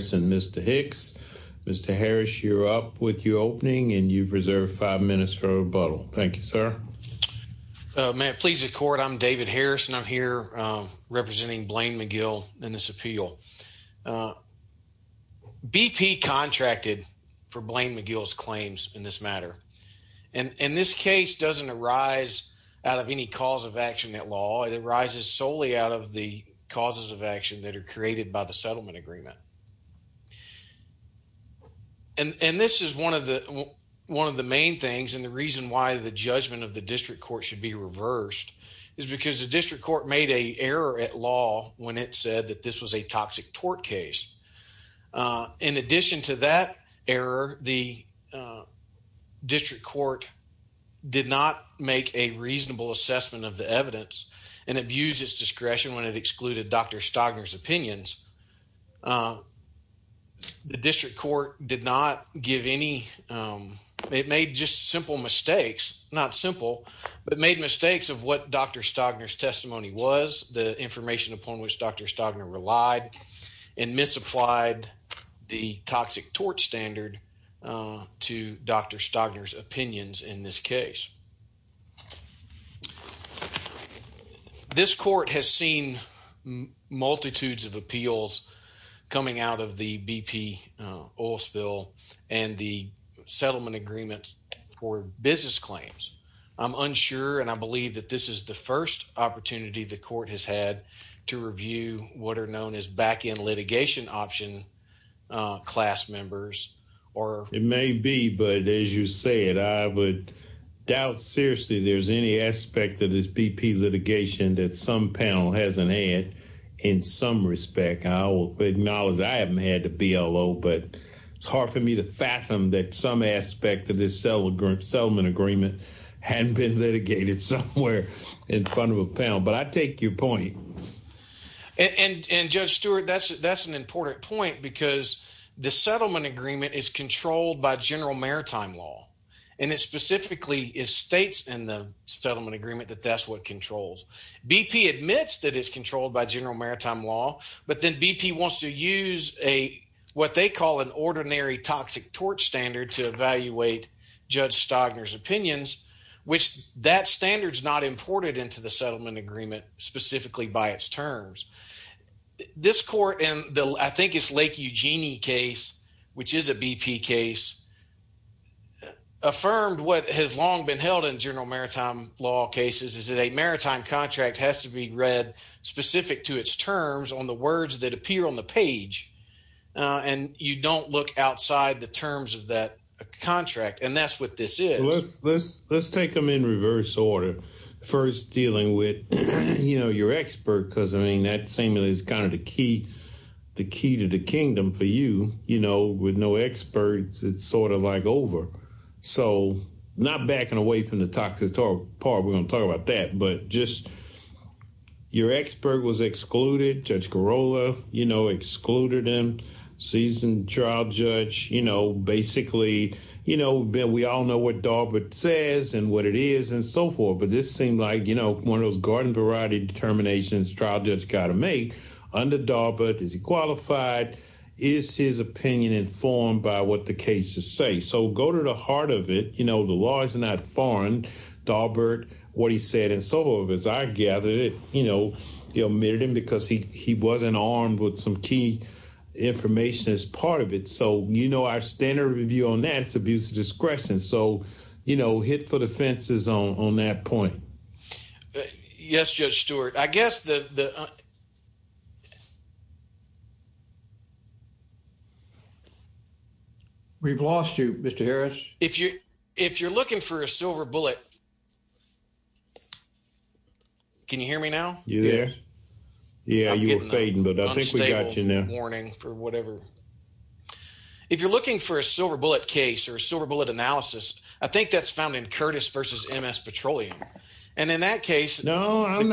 Mr. Hicks, Mr. Harris, you're up with your opening and you've reserved five minutes for rebuttal. Thank you, sir. May it please the court, I'm David Harris and I'm here representing Blaine McGill in this appeal. BP contracted for Blaine McGill's claims in this matter and in this case doesn't arise out of any cause of action at law. It arises solely out of the causes of action that are created by the settlement agreement. And this is one of the one of the main things and the reason why the judgment of the district court should be reversed is because the district court made a error at law when it said that this was a toxic tort case. In addition to that error, the district court did not make a reasonable assessment of the evidence and abused its discretion when it The district court did not give any, it made just simple mistakes, not simple, but made mistakes of what Dr. Stagner's testimony was, the information upon which Dr. Stagner relied, and misapplied the toxic tort standard to Dr. Stagner's appeals coming out of the BP oil spill and the settlement agreement for business claims. I'm unsure and I believe that this is the first opportunity the court has had to review what are known as back in litigation option class members or it may be, but as you said, I would doubt seriously there's any aspect of this BP litigation that some panel hasn't had in some respect. I will acknowledge I haven't had the BLO, but it's hard for me to fathom that some aspect of this settlement agreement hadn't been litigated somewhere in front of a panel, but I take your point. And Judge Stewart, that's an important point because the settlement agreement is controlled by general maritime law. And it specifically states in the settlement agreement that that's what controls. BP admits that it's but then BP wants to use a, what they call an ordinary toxic tort standard to evaluate Judge Stagner's opinions, which that standard is not imported into the settlement agreement specifically by its terms. This court, and I think it's Lake Eugenie case, which is a BP case, affirmed what has long been held in general maritime law cases is that a maritime contract has to be read specific to its terms on the words that appear on the page. And you don't look outside the terms of that contract. And that's what this is. Well, let's take them in reverse order. First, dealing with, you know, your expert, because I mean, that seemingly is kind of the key to the kingdom for you. You know, with no experts, it's sort of like over. So not backing away from the toxic part. We're going to talk about that. But just your expert was excluded. Judge Girola, you know, excluded him. Season trial judge, you know, basically, you know, we all know what Daubert says and what it is and so forth. But this seemed like, you know, one of those garden variety determinations trial judge got to make under Daubert. Is he qualified? Is his opinion informed by what the cases say? So go to the heart of it. You know, the law is not foreign. Daubert, what he said and so forth, as I gather it, you know, he omitted him because he wasn't armed with some key information as part of it. So, you know, our standard review on that's abuse of discretion. So, you know, hit for the fences on that point. Yes, Judge Stewart, I guess that the. Yes. We've lost you, Mr. Harris. If you if you're looking for a silver bullet. Can you hear me now? You there? Yeah, you were fading, but I think we got you now warning for whatever. If you're looking for a silver bullet case or a silver bullet analysis, I think that's found in Curtis versus M. S. Petroleum. And in that case, no, I'm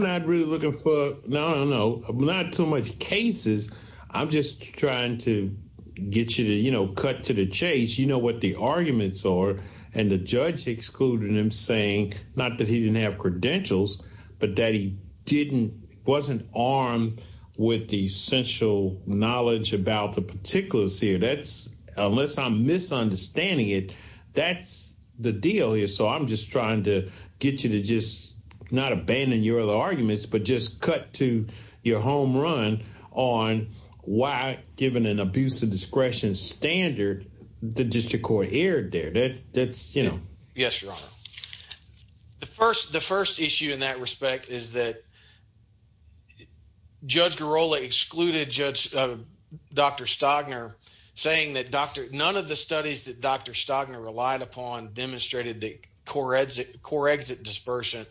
not really looking for. No, no, not so much cases. I'm just trying to get you to, you know, cut to the chase. You know what the arguments are. And the judge excluded him, saying not that he didn't have credentials, but that he didn't wasn't armed with the essential knowledge about the particulars here. That's unless I'm misunderstanding it. That's the deal here. So I'm just trying to get you to just not abandon your other arguments, but just cut to your home run on why, given an abuse of discretion standard, the district court erred there. That's, you know? Yes, Your Honor. The first the first issue in that respect is that Judge Girola excluded Judge Dr. Stagner, saying that Dr. None of the core exit dispersant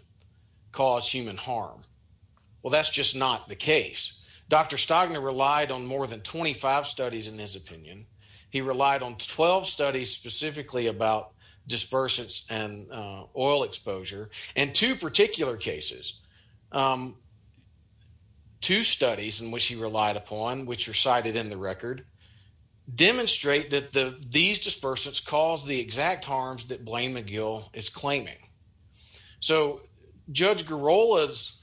cause human harm. Well, that's just not the case. Dr. Stagner relied on more than 25 studies. In his opinion, he relied on 12 studies specifically about dispersants and oil exposure and two particular cases. Um, two studies in which he relied upon, which are cited in the record, demonstrate that these dispersants cause the exact harms that blame McGill is So Judge Girola's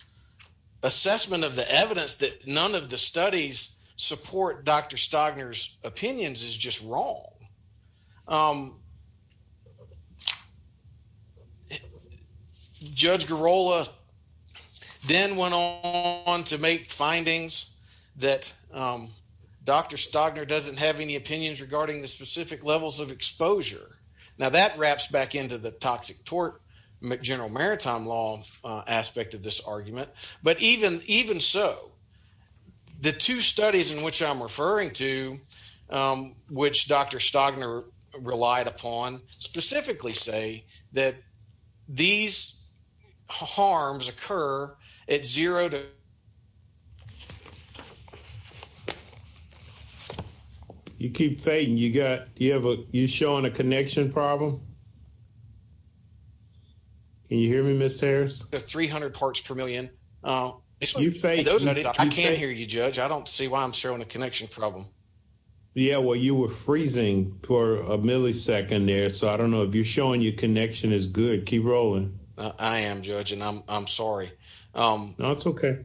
assessment of the evidence that none of the studies support Dr. Stagner's opinions is just wrong. Um, Judge Girola then went on to make findings that, um, Dr. Stagner doesn't have any opinions regarding the specific levels of exposure. Now that wraps back into the toxic tort. McGeneral Maritime law aspect of this argument. But even even so, the two studies in which I'm referring to, um, which Dr. Stagner relied upon specifically say that these harms occur at zero to you. You keep fading. You got you have a you showing a connection problem. Can you hear me, Miss Harris? 300 parts per million. Uh, you say I can't hear you, Judge. I don't see why I'm showing a connection problem. Yeah, well, you were freezing for a millisecond there, so I don't know if you're showing you connection is good. Keep rolling. I am, Judge, and I'm I'm sorry. Um, no, it's okay.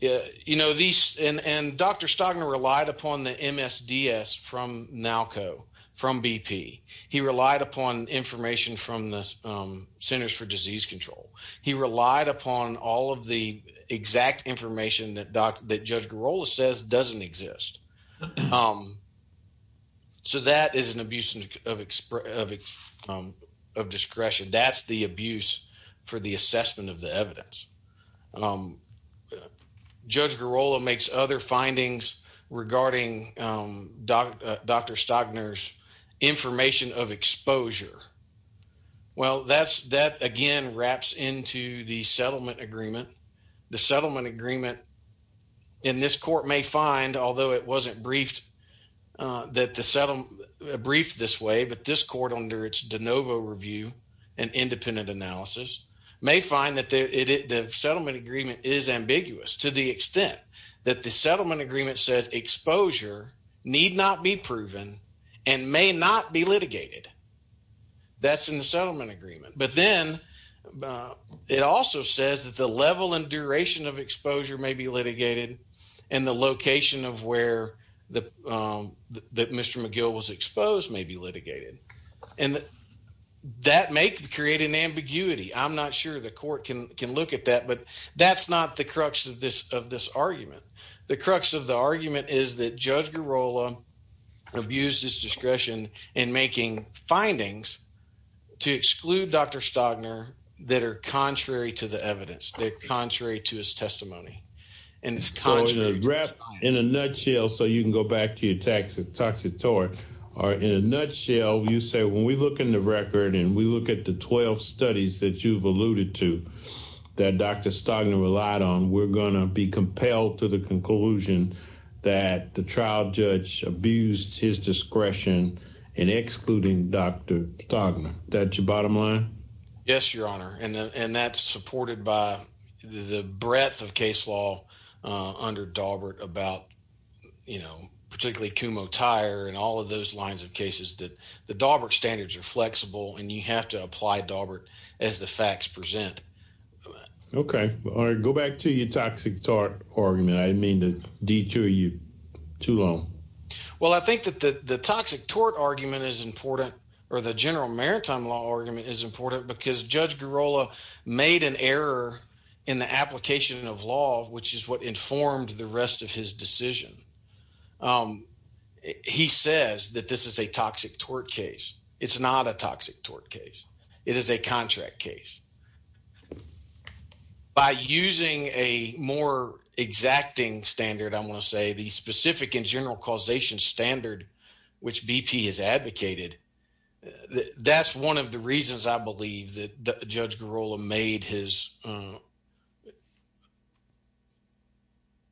Yeah, you know, these and and Dr. Stagner relied upon the MSDS from now co from BP. He relied upon information from the Centers for Disease Control. He relied upon all of the exact information that doctor that Judge Girola says doesn't exist. Um, so that is an abuse of express of, um, of discretion. That's the abuse for the assessment of the evidence. Um, Judge Girola makes other findings regarding, um, Dr Dr Stagner's information of exposure. Well, that's that again wraps into the settlement agreement. The settlement agreement in this court may find, although it wasn't briefed, uh, that the settle brief this way. But this court under its de novo review and independent analysis may find that the settlement agreement is ambiguous to the extent that the settlement agreement says exposure need not be proven and may not be litigated. That's in the settlement agreement. But then, uh, it also says that the level and duration of exposure may be litigated and the location of where the, um, that Mr McGill was exposed may be litigated. And that may create an ambiguity. I'm not sure the court can can look at that. But that's not the crux of this of this argument. The crux of the argument is that Judge Girola abused his discretion and making findings to exclude Dr Stagner that are contrary to evidence. They're contrary to his testimony. And it's contrary in a nutshell. So you can go back to your tax, a toxic tour or in a nutshell, you say, when we look in the record and we look at the 12 studies that you've alluded to that Dr Stagner relied on, we're gonna be compelled to the conclusion that the trial judge abused his discretion and excluding Dr Stagner. That's your bottom line. Yes, Your Honor. And that's supported by the breadth of case law under Daubert about, you know, particularly Kumo tire and all of those lines of cases that the Daubert standards are flexible and you have to apply Daubert as the facts present. Okay. All right. Go back to your toxic tort argument. I didn't mean to detour you too long. Well, I think that the toxic tort argument is important or the general maritime law argument is important because Judge Girola made an error in the application of law, which is what informed the rest of his decision. Um, he says that this is a toxic tort case. It's not a toxic tort case. It is a contract case by using a more exacting standard. I'm gonna say the specific in general causation standard which BP has advocated. That's one of the reasons I believe that Judge Girola made his, uh,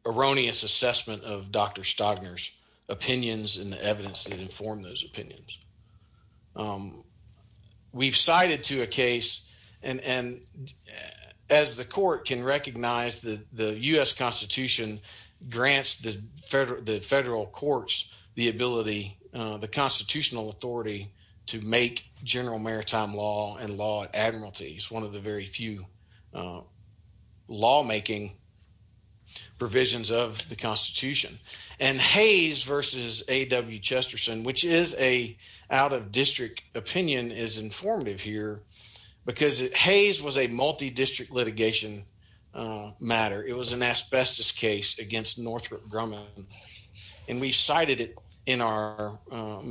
erroneous assessment of Dr Stagner's opinions and the evidence that informed those opinions. Um, we've cited to a case and and as the court can recognize that the U. S. Constitution grants the federal, the federal courts the ability, the constitutional authority to make general maritime law and law admiralty is one of the very few, uh, lawmaking provisions of the Constitution and Hayes versus A. W. Chesterson, which is a out of district opinion is informative here because Hayes was a multi district litigation. Uh, matter. It was an asbestos case against Northrop Grumman, and we cited it in our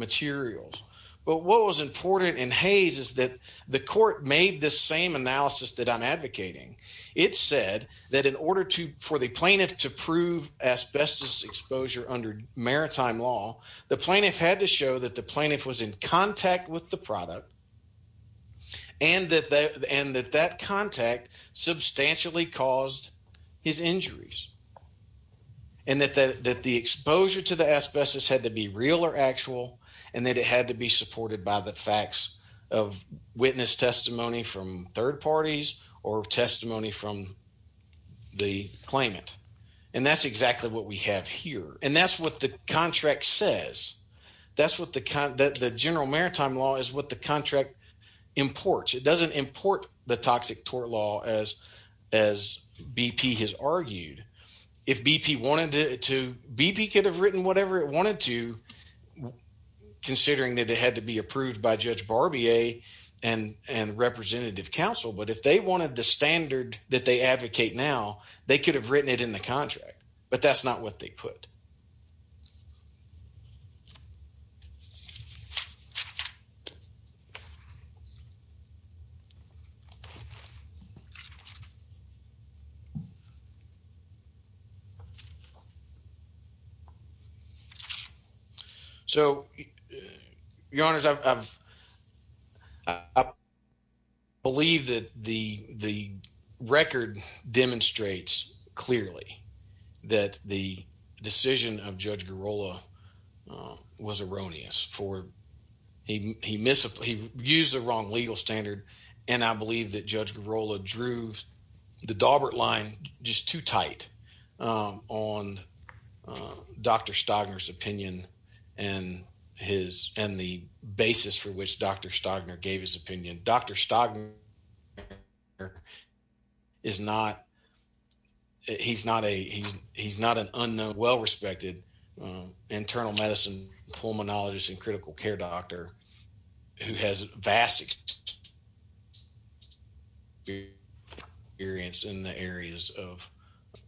materials. But what was important in Hayes is that the court made the same analysis that I'm advocating. It said that in order to for the plaintiff to prove asbestos exposure under maritime law, the product and that and that that contact substantially caused his injuries and that that the exposure to the asbestos had to be real or actual and that it had to be supported by the facts of witness testimony from third parties or testimony from the claimant. And that's exactly what we have here. And that's what the contract says. That's what the kind that the general maritime law is what the contract imports. It doesn't import the toxic tort law as as BP has argued. If BP wanted to, BP could have written whatever it wanted to, considering that it had to be approved by Judge Barbier and and representative counsel. But if they wanted the standard that they advocate now, they could have written it in the contract. But that's not what they put. Thank you. So, uh, your honors, I've up believe that the record demonstrates clearly that the decision of Judge Girola was erroneous for. He missed. He used the wrong legal standard. And I believe that Judge Girola drew the Daubert line just too tight on Dr Stagner's opinion and his and the basis for which Dr Stagner gave his opinion. Dr Stagner is not. He's not a. He's not an unknown, well respected, um, internal medicine pulmonologist and critical care doctor who has vast experience in the areas of,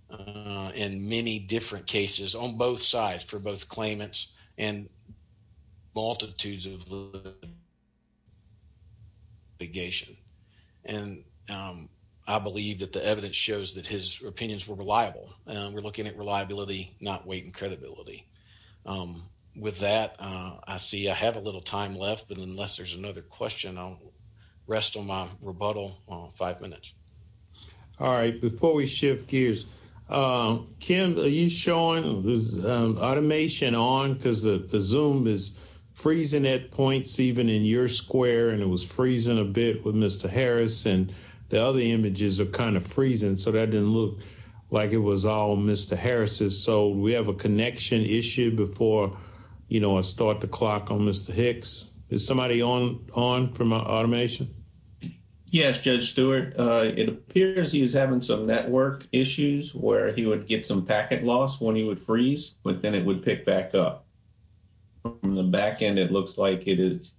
uh, in many different cases on both sides for both claimants and multitudes of his opinions were reliable. We're looking at reliability, not weight and credibility. Um, with that, I see I have a little time left, but unless there's another question, I'll rest on my rebuttal on five minutes. All right, before we shift gears, Kim, are you showing this automation on because the zoom is freezing at points even in your square and it was freezing a bit with Mr Harris and the other images are kind of freezing. So that didn't look like it was all Mr Harris's. So we have a connection issue before, you know, I start the clock on Mr Hicks. Is somebody on on from automation? Yes, Judge Stewart. It appears he was having some network issues where he would get some packet loss when he would freeze, but then it would pick back up from the back end. It looks like it is,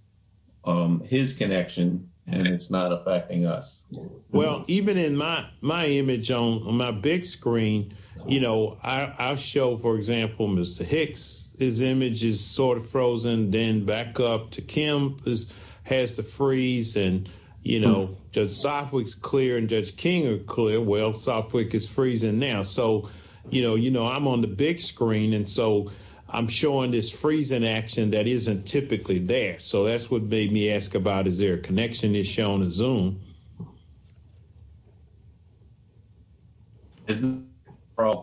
um, his connection and it's not affecting us. Well, even in my my image on my big screen, you know, I'll show, for example, Mr Hicks. His image is sort of frozen. Then back up to Kim has to freeze and, you know, just soft weeks clear and Judge King are clear. Well, Southwick is freezing now. So, you know, you know, I'm on the big screen, and so I'm showing this freezing action that isn't typically there. So that's what made me ask about. Is there a connection is shown his own isn't